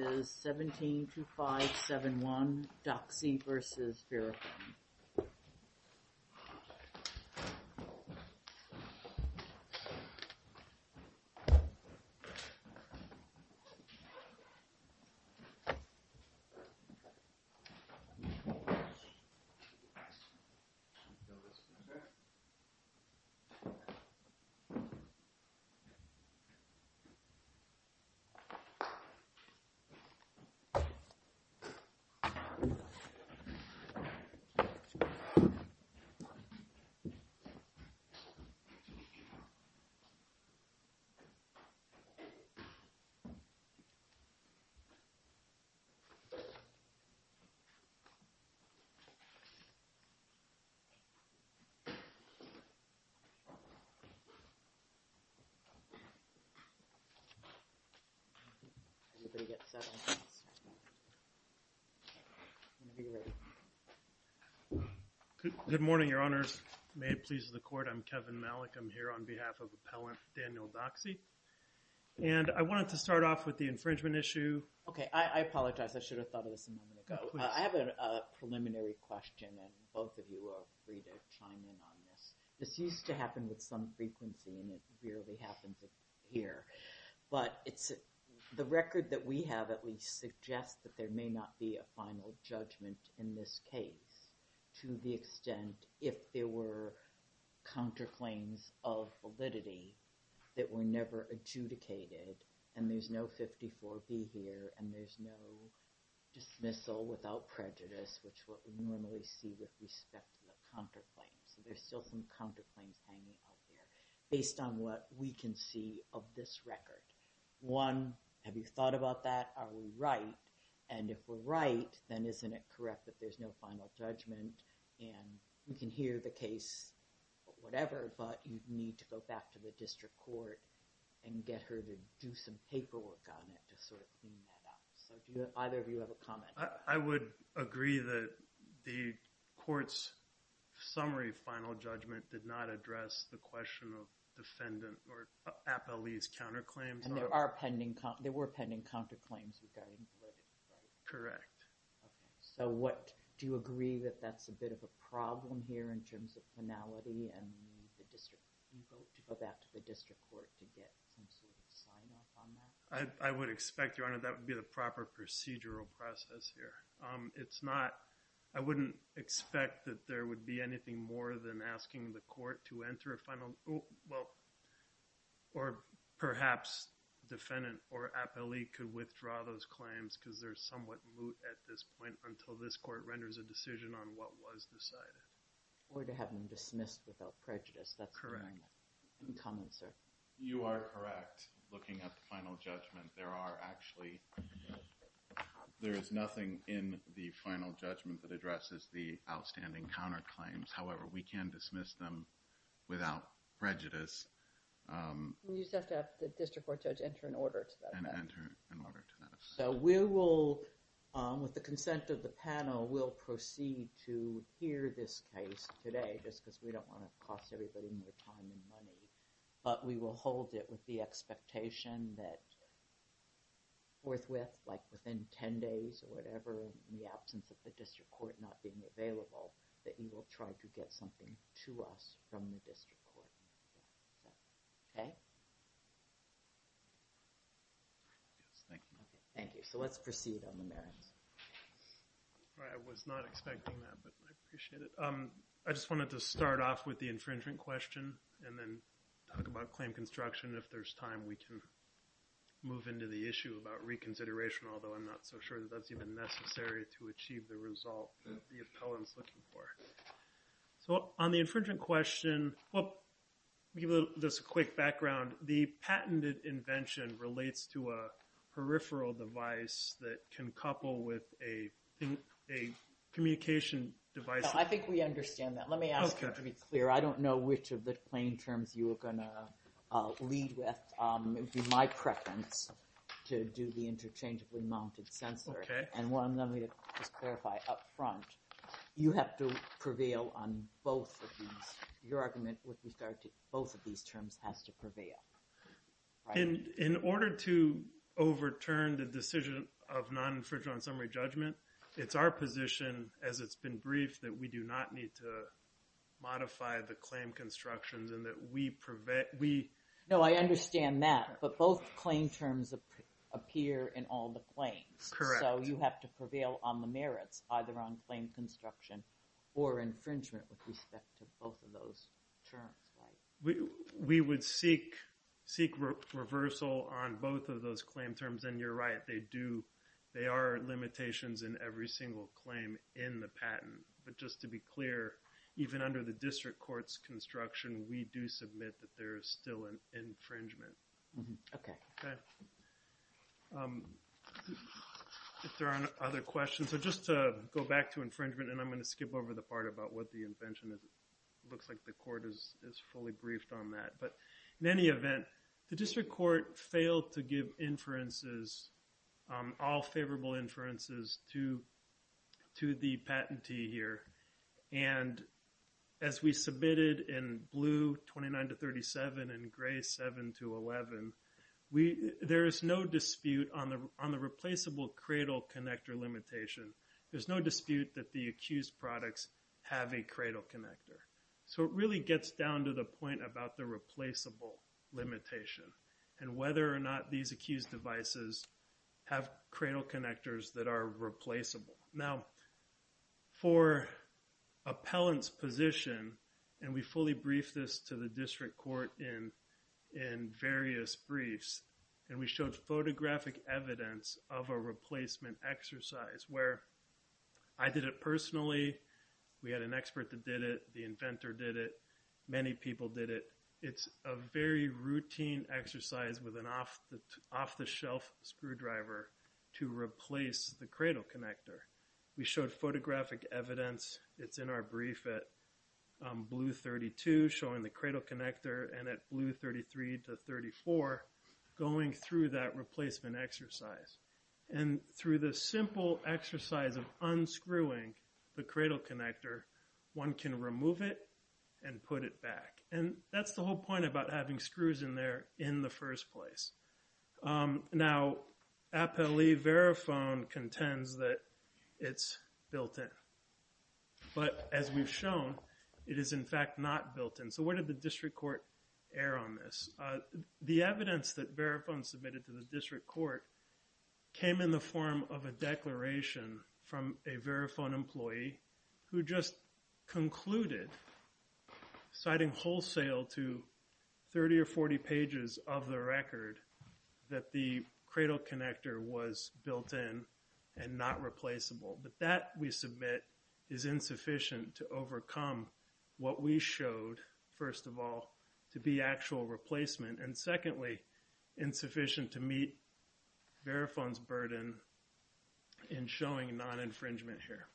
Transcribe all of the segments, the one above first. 172571, Doxy v. Verifone. 172571, Doxy v. Verifone. Good morning, your honors. May it please the court, I'm Kevin Malick. I'm here on behalf of appellant Daniel Doxy. And I wanted to start off with the infringement issue. Okay, I apologize. I should have thought of this a moment ago. I have a preliminary question and both of you are free to chime in on this. This used to happen with some frequency and it rarely happens here. But the record that we have at least suggests that there may not be a final judgment in this case to the extent if there were counterclaims of validity that were never adjudicated and there's no 54B here and there's no dismissal without prejudice, which is what we normally see with respect to the counterclaims. So there's still some counterclaims hanging out there based on what we can see of this record. One, have you thought about that? Are we right? And if we're right, then isn't it correct that there's no final judgment? And we can hear the case, whatever, but you'd need to go back to the district court and get her to do some paperwork on it to sort of clean that up. So do either of you have a comment? I would agree that the court's summary final judgment did not address the question of defendant or appellee's counterclaims. And there were pending counterclaims regarding validity, right? Correct. Okay, so do you agree that that's a bit of a problem here in terms of finality and you need to go back to the district court to get some sort of sign off on that? I would expect, Your Honor, that would be the proper procedural process here. It's not, I wouldn't expect that there would be anything more than asking the court to enter a final, well, or perhaps defendant or appellee could withdraw those claims because they're somewhat moot at this point until this court renders a decision on what was decided. Or to have them dismissed without prejudice. Correct. Any comments, sir? You are correct. Looking at the final judgment, there are actually, there is nothing in the final judgment that addresses the outstanding counterclaims. However, we can dismiss them without prejudice. You just have to have the district court judge enter an order to that effect. And enter an order to that effect. So we will, with the consent of the panel, we'll proceed to hear this case today just because we don't want to cost everybody more time and money. But we will hold it with the expectation that forthwith, like within 10 days or whatever, in the absence of the district court not being available, that you will try to get something to us from the district court. Okay? Thank you. Thank you. So let's proceed on the merits. I was not expecting that, but I appreciate it. I just wanted to start off with the infringement question and then talk about claim construction. If there's time, we can move into the issue about reconsideration, although I'm not so sure that that's even necessary to achieve the result that the appellant's looking for. So on the infringement question, we'll give this a quick background. The patented invention relates to a peripheral device that can couple with a communication device. I think we understand that. Let me ask you to be clear. I don't know which of the claim terms you are going to lead with. It would be my preference to do the interchangeably mounted sensor. Okay. And let me just clarify up front. You have to prevail on both of these. Your argument with regard to both of these terms has to prevail. In order to overturn the decision of non-infringement summary judgment, it's our position, as it's been briefed, that we do not need to modify the claim constructions and that we prevent, we... No, I understand that. But both claim terms appear in all the claims. Correct. So you have to prevail on the merits, either on claim construction or infringement with respect to both of those terms, right? We would seek reversal on both of those claim terms. And you're right. They are limitations in every single claim in the patent. But just to be clear, even under the district court's construction, we do submit that there is still an infringement. Okay. If there aren't other questions. So just to go back to infringement, and I'm going to skip over the part about what the invention is. It looks like the court is fully briefed on that. But in any event, the district court failed to give inferences, all favorable inferences, to the patentee here. And as we submitted in blue 29 to 37 and gray 7 to 11, there is no dispute on the replaceable cradle connector limitation. There's no dispute that the accused products have a cradle connector. So it really gets down to the point about the replaceable limitation and whether or not these accused devices have cradle connectors that are replaceable. Now, for appellant's position, and we fully briefed this to the district court in various briefs, and we showed photographic evidence of a replacement exercise where I did it personally. We had an expert that did it. The inventor did it. Many people did it. It's a very routine exercise with an off-the-shelf screwdriver to replace the cradle connector. We showed photographic evidence. It's in our brief at blue 32, showing the cradle connector, and at blue 33 to 34, going through that replacement exercise. And through the simple exercise of unscrewing the cradle connector, one can remove it and put it back. And that's the whole point about having screws in there in the first place. Now, appellee Verifone contends that it's built in, but as we've shown, it is in fact not built in. So where did the district court err on this? The evidence that Verifone submitted to the district court came in the form of a declaration from a Verifone employee who just concluded, citing wholesale to 30 or 40 pages of the record, that the cradle connector was built in and not replaceable. But that, we submit, is insufficient to overcome what we showed, first of all, to be actual replacement, and secondly, insufficient to meet Verifone's burden in showing non-infringement here.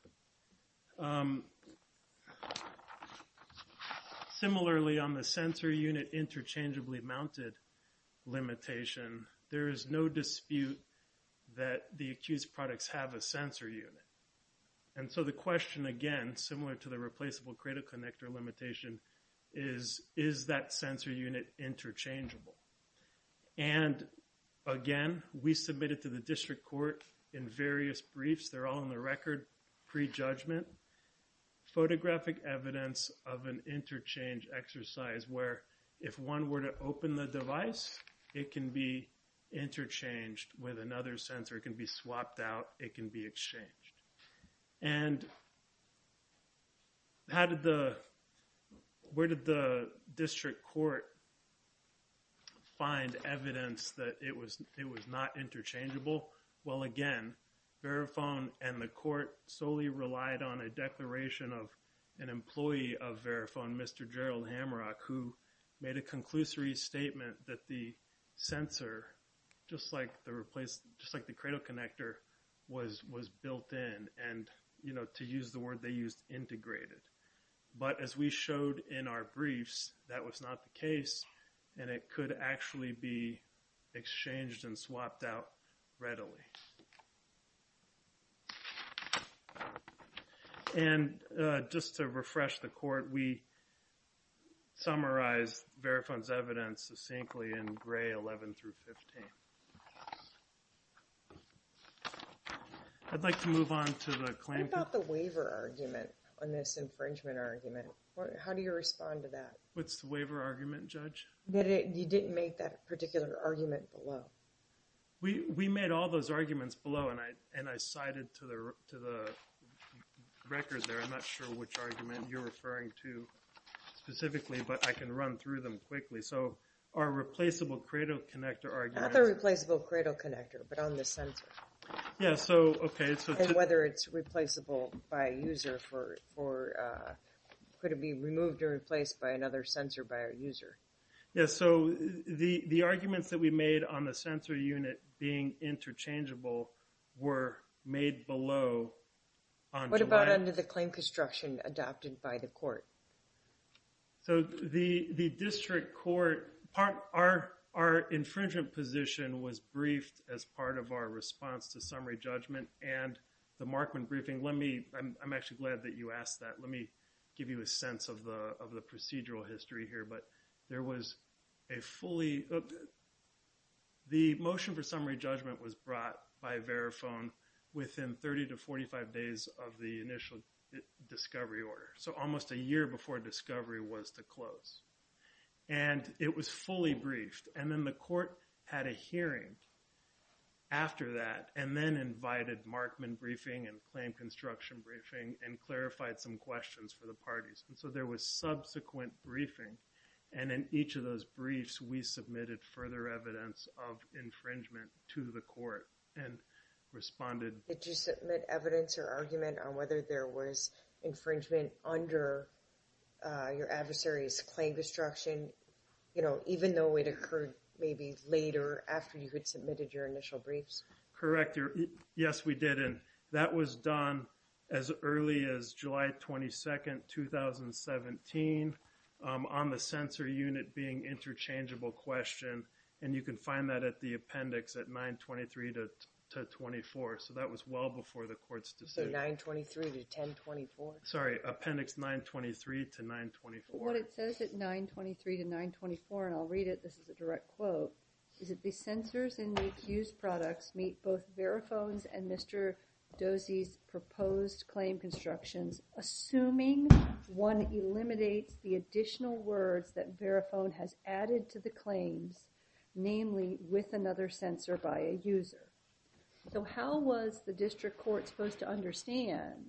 Similarly, on the sensor unit interchangeably mounted limitation, there is no dispute that the accused products have a sensor unit. And so the question, again, similar to the replaceable cradle connector limitation, is, is that sensor unit interchangeable? And again, we submitted to the district court in various briefs. They're all in the record pre-judgment. Photographic evidence of an interchange exercise where if one were to open the device, it can be interchanged with another sensor. It can be swapped out. It can be exchanged. And where did the district court find evidence that it was not interchangeable? Well, again, Verifone and the court solely relied on a declaration of an employee of Verifone, Mr. Gerald Hamrock, who made a conclusory statement that the sensor, just like the cradle connector, was built in. And, you know, to use the word they used, integrated. But as we showed in our briefs, that was not the case, and it could actually be exchanged and swapped out readily. Okay. And just to refresh the court, we summarized Verifone's evidence succinctly in gray 11 through 15. I'd like to move on to the claim. What about the waiver argument on this infringement argument? How do you respond to that? What's the waiver argument, Judge? You didn't make that particular argument below. We made all those arguments below, and I cited to the record there. I'm not sure which argument you're referring to specifically, but I can run through them quickly. So our replaceable cradle connector argument. Not the replaceable cradle connector, but on the sensor. Yeah, so, okay. And whether it's replaceable by a user for, could it be removed or replaced by another sensor by a user? Yeah, so the arguments that we made on the sensor unit being interchangeable were made below. What about under the claim construction adopted by the court? So the district court, our infringement position was briefed as part of our response to summary judgment and the Markman briefing. Let me, I'm actually glad that you asked that. Let me give you a sense of the procedural history here. But there was a fully, the motion for summary judgment was brought by Verifone within 30 to 45 days of the initial discovery order. So almost a year before discovery was to close. And it was fully briefed. And then the court had a hearing after that and then invited Markman briefing and claim construction briefing and clarified some questions for the parties. And so there was subsequent briefing. And in each of those briefs, we submitted further evidence of infringement to the court and responded. Did you submit evidence or argument on whether there was infringement under your adversary's claim construction? You know, even though it occurred maybe later after you had submitted your initial briefs? Correct. Yes, we did. And that was done as early as July 22, 2017 on the sensor unit being interchangeable question. And you can find that at the appendix at 923 to 24. So that was well before the court's decision. So 923 to 1024? Sorry, appendix 923 to 924. What it says at 923 to 924, and I'll read it, this is a direct quote, is that the sensors in the accused products meet both Verifone's and Mr. Dozy's proposed claim constructions, assuming one eliminates the additional words that Verifone has added to the claims, namely, with another sensor by a user. So how was the district court supposed to understand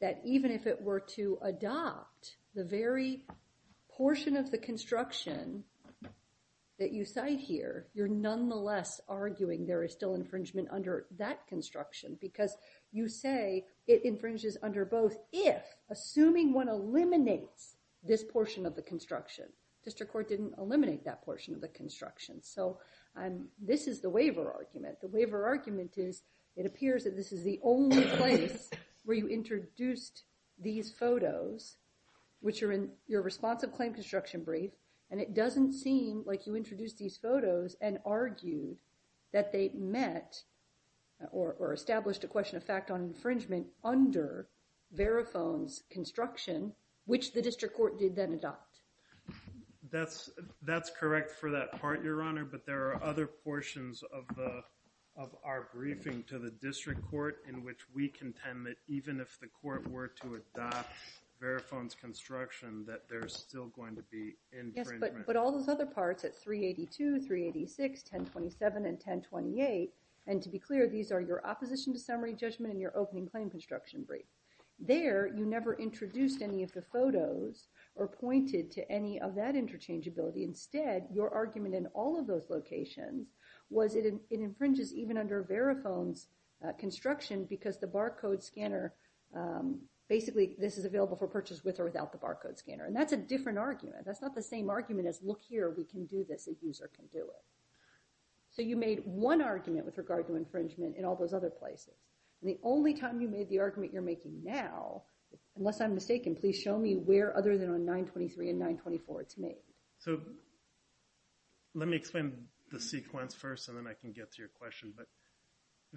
that even if it were to adopt the very portion of the construction that you cite here, you're nonetheless arguing there is still infringement under that construction? Because you say it infringes under both if, assuming one eliminates this portion of the construction. District court didn't eliminate that portion of the construction. So this is the waiver argument. The waiver argument is it appears that this is the only place where you introduced these photos, which are in your responsive claim construction brief, and it doesn't seem like you introduced these photos and argued that they met or established a question of fact on infringement under Verifone's construction, which the district court did then adopt. That's correct for that part, Your Honor, but there are other portions of our briefing to the district court in which we contend that even if the court were to adopt Verifone's construction, that there's still going to be infringement. Yes, but all those other parts at 382, 386, 1027, and 1028, and to be clear, these are your opposition to summary judgment and your opening claim construction brief. There, you never introduced any of the photos or pointed to any of that interchangeability. Instead, your argument in all of those locations was it infringes even under Verifone's construction because the barcode scanner, basically, this is available for purchase with or without the barcode scanner, and that's a different argument. That's not the same argument as look here, we can do this, a user can do it. So you made one argument with regard to infringement in all those other places, and the only time you made the argument you're making now, unless I'm mistaken, please show me where other than on 923 and 924 it's made. So let me explain the sequence first, and then I can get to your question, but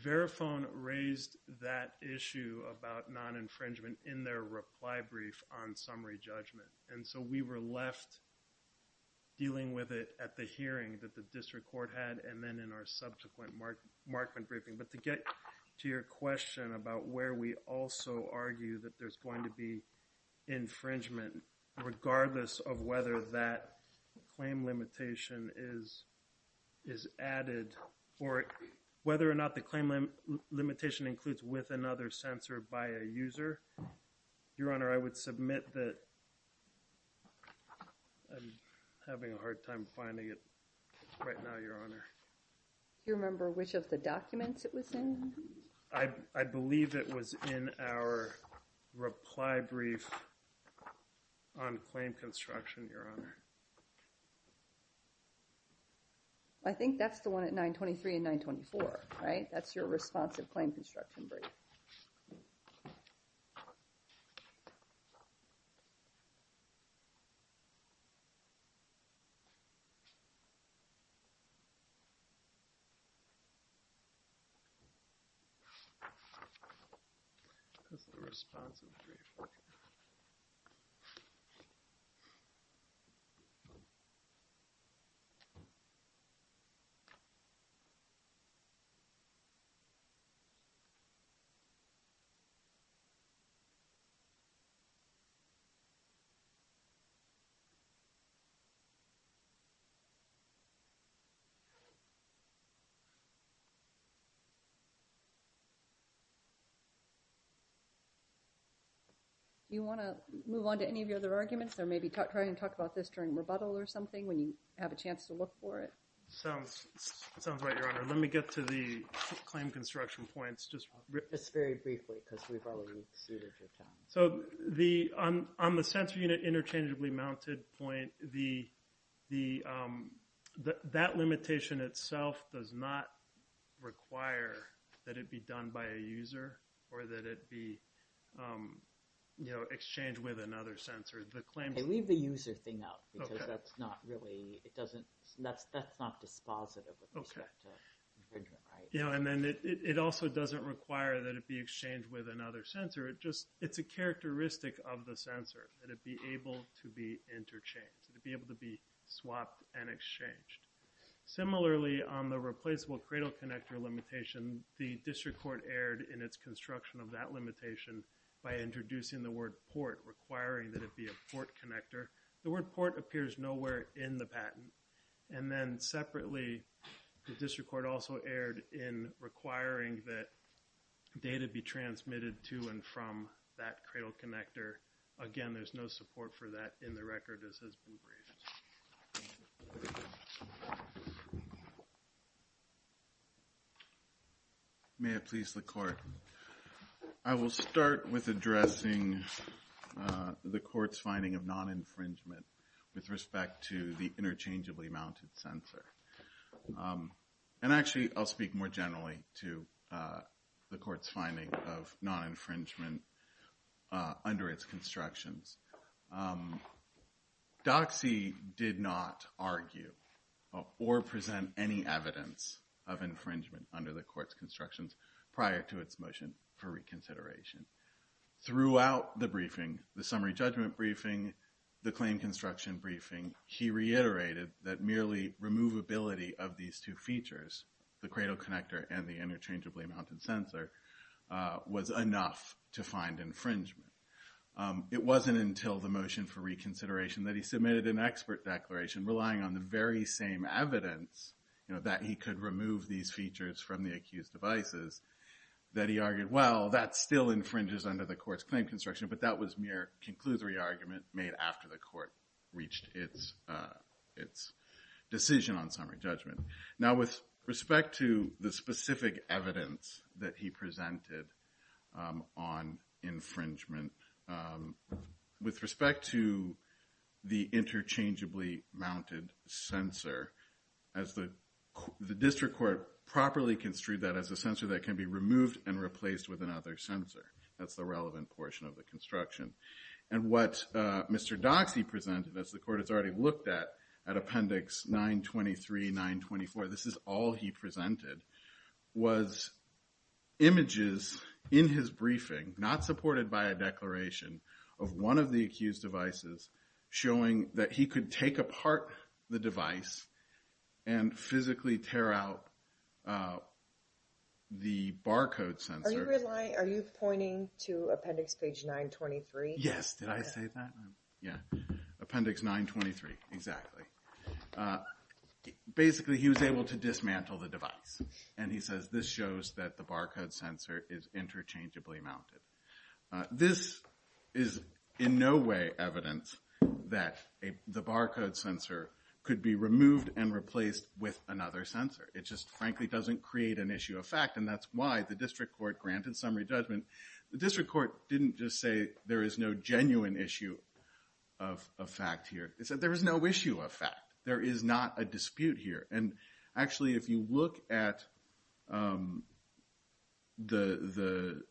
Verifone raised that issue about non-infringement in their reply brief on summary judgment, and so we were left dealing with it at the hearing that the district court had, and then in our subsequent Markman briefing. But to get to your question about where we also argue that there's going to be infringement, regardless of whether that claim limitation is added, or whether or not the claim limitation includes with another sensor by a user, Your Honor, I would submit that I'm having a hard time finding it right now, Your Honor. Do you remember which of the documents it was in? I believe it was in our reply brief on claim construction, Your Honor. I think that's the one at 923 and 924, right? That's your responsive claim construction brief. Okay. Do you want to move on to any of your other arguments, or maybe try and talk about this during rebuttal or something when you have a chance to look for it? It sounds right, Your Honor. Let me get to the claim construction points. Just very briefly, because we've already exceeded your time. So on the sensor unit interchangeably mounted point, that limitation itself does not require that it be done by a user, or that it be exchanged with another sensor. Okay, leave the user thing out, because that's not really, that's not dispositive with respect to infringement rights. Yeah, and then it also doesn't require that it be exchanged with another sensor. It's a characteristic of the sensor, that it be able to be interchanged, that it be able to be swapped and exchanged. Similarly, on the replaceable cradle connector limitation, the district court erred in its construction of that limitation by introducing the word port, requiring that it be a port connector. The word port appears nowhere in the patent. And then separately, the district court also erred in requiring that data be transmitted to and from that cradle connector. Again, there's no support for that in the record as has been briefed. May it please the court. I will start with addressing the court's finding of non-infringement with respect to the interchangeably mounted sensor. And actually, I'll speak more generally to the court's finding of non-infringement under its constructions. DOCSI did not argue or present any evidence of infringement under the court's constructions prior to its motion for reconsideration. Throughout the briefing, the summary judgment briefing, the claim construction briefing, he reiterated that merely removability of these two features, the cradle connector and the interchangeably mounted sensor, was enough to find infringement. It wasn't until the motion for reconsideration that he submitted an expert declaration, relying on the very same evidence that he could remove these features from the accused devices, that he argued, well, that still infringes under the court's claim construction, but that was mere conclusory argument made after the court reached its decision on summary judgment. Now, with respect to the specific evidence that he presented on infringement, with respect to the interchangeably mounted sensor, the district court properly construed that as a sensor that can be removed and replaced with another sensor. That's the relevant portion of the construction. And what Mr. DOCSI presented, as the court has already looked at, at Appendix 923, 924, this is all he presented, was images in his briefing, not supported by a declaration, of one of the accused devices showing that he could take apart the device and physically tear out the barcode sensor. Are you pointing to Appendix 923? Yes, did I say that? Yeah, Appendix 923, exactly. Basically, he was able to dismantle the device, and he says this shows that the barcode sensor is interchangeably mounted. This is in no way evidence that the barcode sensor could be removed and replaced with another sensor. It just frankly doesn't create an issue of fact, and that's why the district court granted summary judgment. The district court didn't just say there is no genuine issue of fact here. They said there is no issue of fact. There is not a dispute here. And actually, if you look at the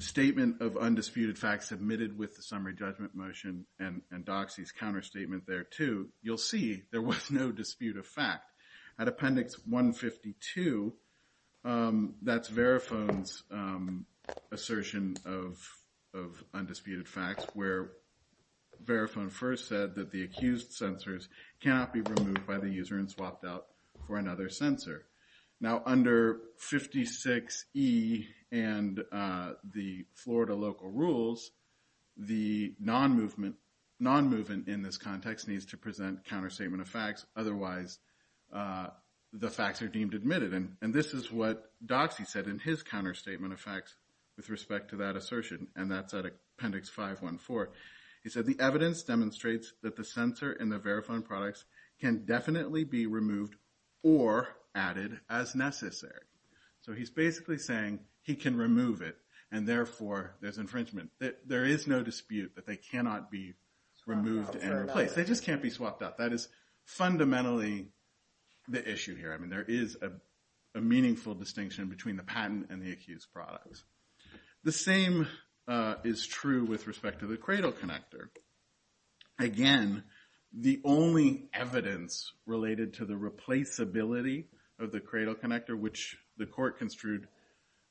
statement of undisputed facts submitted with the summary judgment motion and DOCSI's counterstatement there too, you'll see there was no dispute of fact. At Appendix 152, that's Verifone's assertion of undisputed facts, where Verifone first said that the accused sensors cannot be removed by the user and swapped out for another sensor. Now, under 56E and the Florida local rules, the non-movement in this context needs to present counterstatement of facts. Otherwise, the facts are deemed admitted. And this is what DOCSI said in his counterstatement of facts with respect to that assertion, and that's at Appendix 514. He said the evidence demonstrates that the sensor in the Verifone products can definitely be removed or added as necessary. So he's basically saying he can remove it, and therefore there's infringement. There is no dispute that they cannot be removed and replaced. They just can't be swapped out. That is fundamentally the issue here. I mean, there is a meaningful distinction between the patent and the accused products. The same is true with respect to the cradle connector. Again, the only evidence related to the replaceability of the cradle connector, which the court construed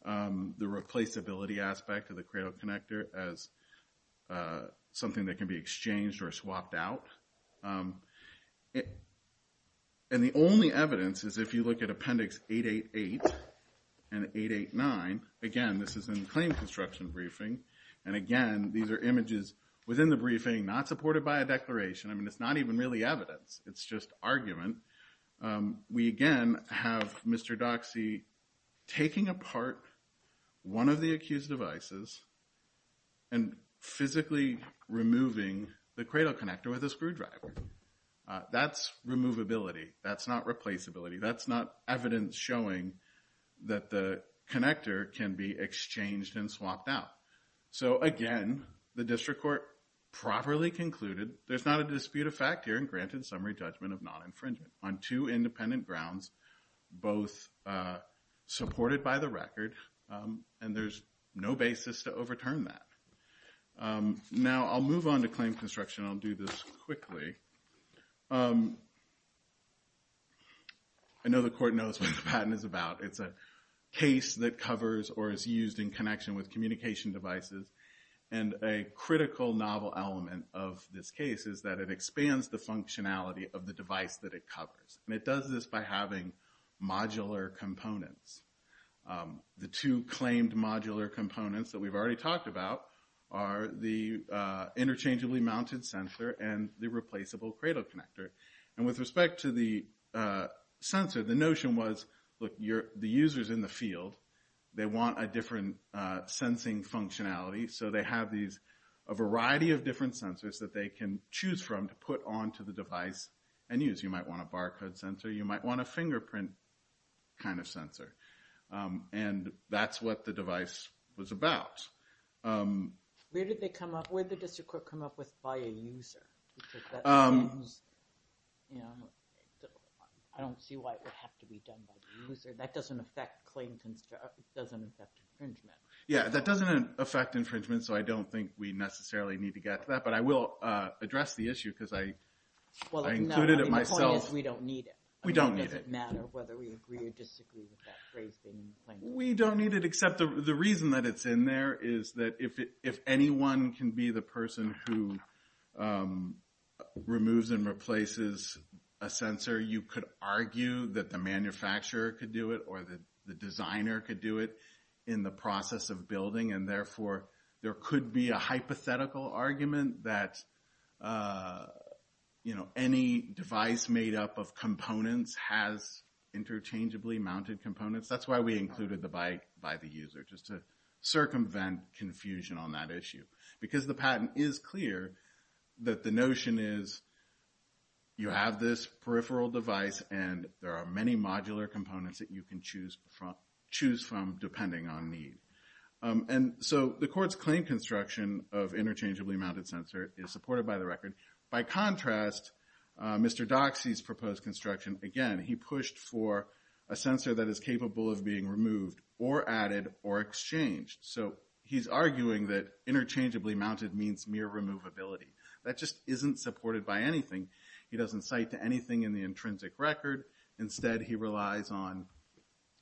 the replaceability aspect of the cradle connector as something that can be exchanged or swapped out. And the only evidence is if you look at Appendix 888 and 889. Again, this is in the claim construction briefing. And again, these are images within the briefing not supported by a declaration. I mean, it's not even really evidence. It's just argument. We again have Mr. DOCSI taking apart one of the accused devices and physically removing the cradle connector with a screwdriver. That's removability. That's not replaceability. That's not evidence showing that the connector can be exchanged and swapped out. So again, the district court properly concluded there's not a dispute of fact here and granted summary judgment of non-infringement on two independent grounds, both supported by the record, and there's no basis to overturn that. Now I'll move on to claim construction. I'll do this quickly. I know the court knows what the patent is about. It's a case that covers or is used in connection with communication devices. And a critical novel element of this case is that it expands the functionality of the device that it covers. And it does this by having modular components. The two claimed modular components that we've already talked about are the interchangeably mounted sensor and the replaceable cradle connector. And with respect to the sensor, the notion was, look, the user's in the field. They want a different sensing functionality. So they have a variety of different sensors that they can choose from to put onto the device and use. You might want a barcode sensor. You might want a fingerprint kind of sensor. And that's what the device was about. Where did the district court come up with, by a user? I don't see why it would have to be done by the user. That doesn't affect infringement. Yeah, that doesn't affect infringement, so I don't think we necessarily need to get to that. But I will address the issue because I included it myself. The point is, we don't need it. We don't need it. It doesn't matter whether we agree or disagree with that phrase being used. We don't need it except the reason that it's in there is that if anyone can be the person who removes and replaces a sensor, you could argue that the manufacturer could do it or that the designer could do it in the process of building. And therefore, there could be a hypothetical argument that, you know, any device made up of components has interchangeably mounted components. That's why we included the by the user, just to circumvent confusion on that issue. Because the patent is clear that the notion is you have this peripheral device and there are many modular components that you can choose from depending on need. And so the court's claim construction of interchangeably mounted sensor is supported by the record. By contrast, Mr. Doxey's proposed construction, again, he pushed for a sensor that is capable of being removed or added or exchanged. So he's arguing that interchangeably mounted means mere removability. That just isn't supported by anything. He doesn't cite to anything in the intrinsic record. Instead, he relies on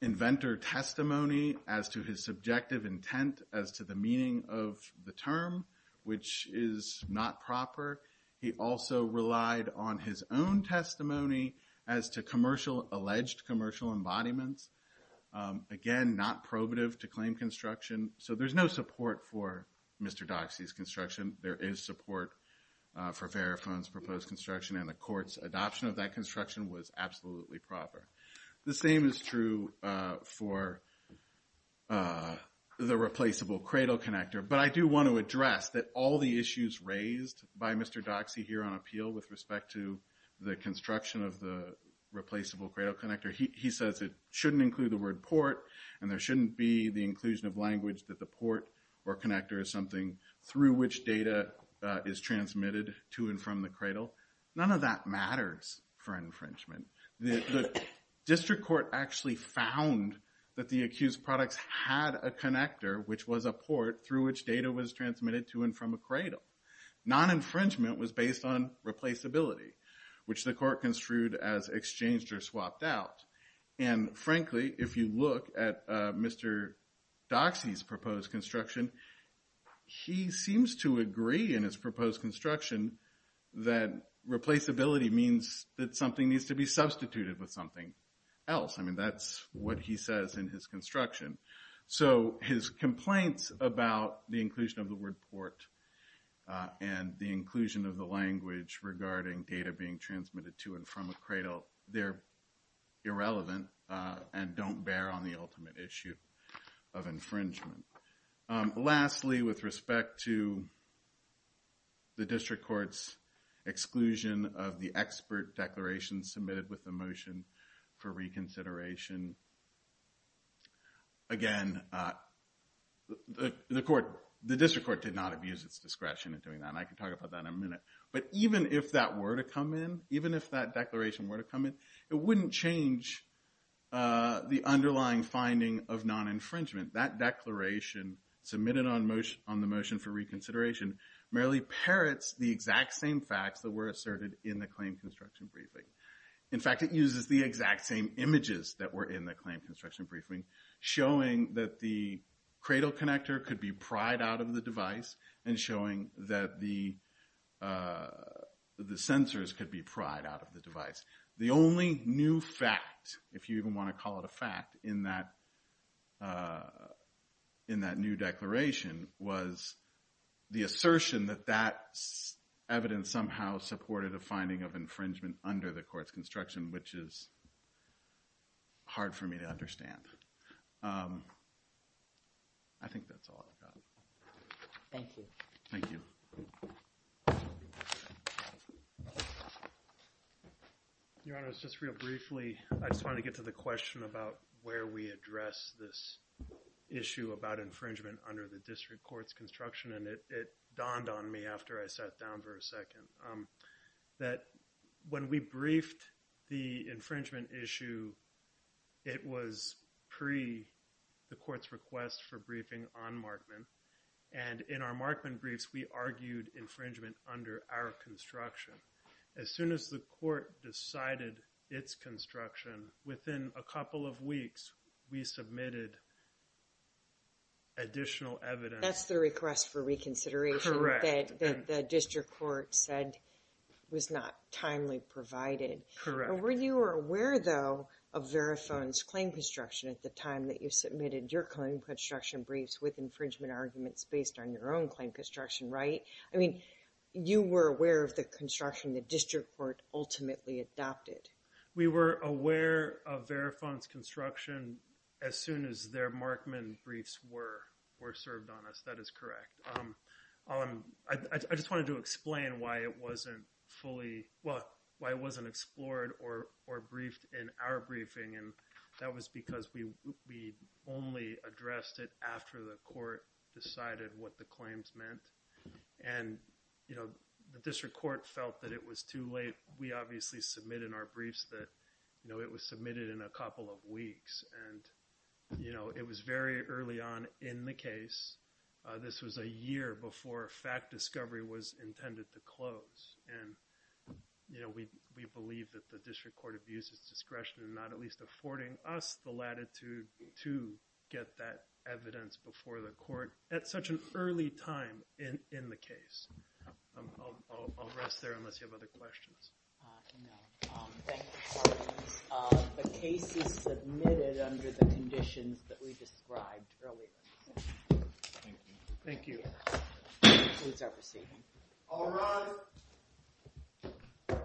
inventor testimony as to his subjective intent as to the meaning of the term, which is not proper. He also relied on his own testimony as to alleged commercial embodiments. Again, not probative to claim construction. So there's no support for Mr. Doxey's construction. There is support for Verifone's proposed construction. And the court's adoption of that construction was absolutely proper. The same is true for the replaceable cradle connector. But I do want to address that all the issues raised by Mr. Doxey here on appeal with respect to the construction of the replaceable cradle connector, he says it shouldn't include the word port, and there shouldn't be the inclusion of language that the port or connector is something through which data is transmitted to and from the cradle. None of that matters for infringement. The district court actually found that the accused products had a connector, which was a port through which data was transmitted to and from a cradle. Non-infringement was based on replaceability, which the court construed as exchanged or swapped out. And frankly, if you look at Mr. Doxey's proposed construction, he seems to agree in his proposed construction that replaceability means that something needs to be substituted with something else. I mean, that's what he says in his construction. So his complaints about the inclusion of the word port and the inclusion of the language regarding data being transmitted to and from a cradle, they're irrelevant and don't bear on the ultimate issue of infringement. Lastly, with respect to the district court's exclusion of the expert declaration submitted with the motion for reconsideration, again, the district court did not abuse its discretion in doing that, and I can talk about that in a minute. But even if that were to come in, even if that declaration were to come in, it wouldn't change the underlying finding of non-infringement. That declaration submitted on the motion for reconsideration merely parrots the exact same facts that were asserted in the claim construction briefing. In fact, it uses the exact same images that were in the claim construction briefing, showing that the cradle connector could be pried out of the device and showing that the sensors could be pried out of the device. The only new fact, if you even want to call it a fact, in that new declaration was the assertion that that evidence somehow supported a finding of infringement under the court's construction, which is hard for me to understand. I think that's all I've got. Thank you. Thank you. Your Honor, just real briefly, I just wanted to get to the question about where we address this issue about infringement under the district court's construction, and it dawned on me after I sat down for a second, that when we briefed the infringement issue, it was pre the court's request for briefing on Markman. And in our Markman briefs, we argued infringement under our construction. As soon as the court decided its construction, within a couple of weeks, we submitted additional evidence. That's the request for reconsideration that the district court said was not timely provided. Correct. Were you aware, though, of Verifone's claim construction at the time that you submitted your claim construction briefs with infringement arguments based on your own claim construction, right? I mean, you were aware of the construction the district court ultimately adopted. We were aware of Verifone's construction as soon as their Markman briefs were served on us. That is correct. I just wanted to explain why it wasn't fully – well, why it wasn't explored or briefed in our briefing, and that was because we only addressed it after the court decided what the claims meant. And the district court felt that it was too late. We obviously submitted in our briefs that it was submitted in a couple of weeks. And it was very early on in the case. This was a year before fact discovery was intended to close. And, you know, we believe that the district court abused its discretion in not at least affording us the latitude to get that evidence before the court at such an early time in the case. I'll rest there unless you have other questions. No. Thank you for that. The case is submitted under the conditions that we described earlier. Thank you. Thank you. This concludes our proceeding. I'll run.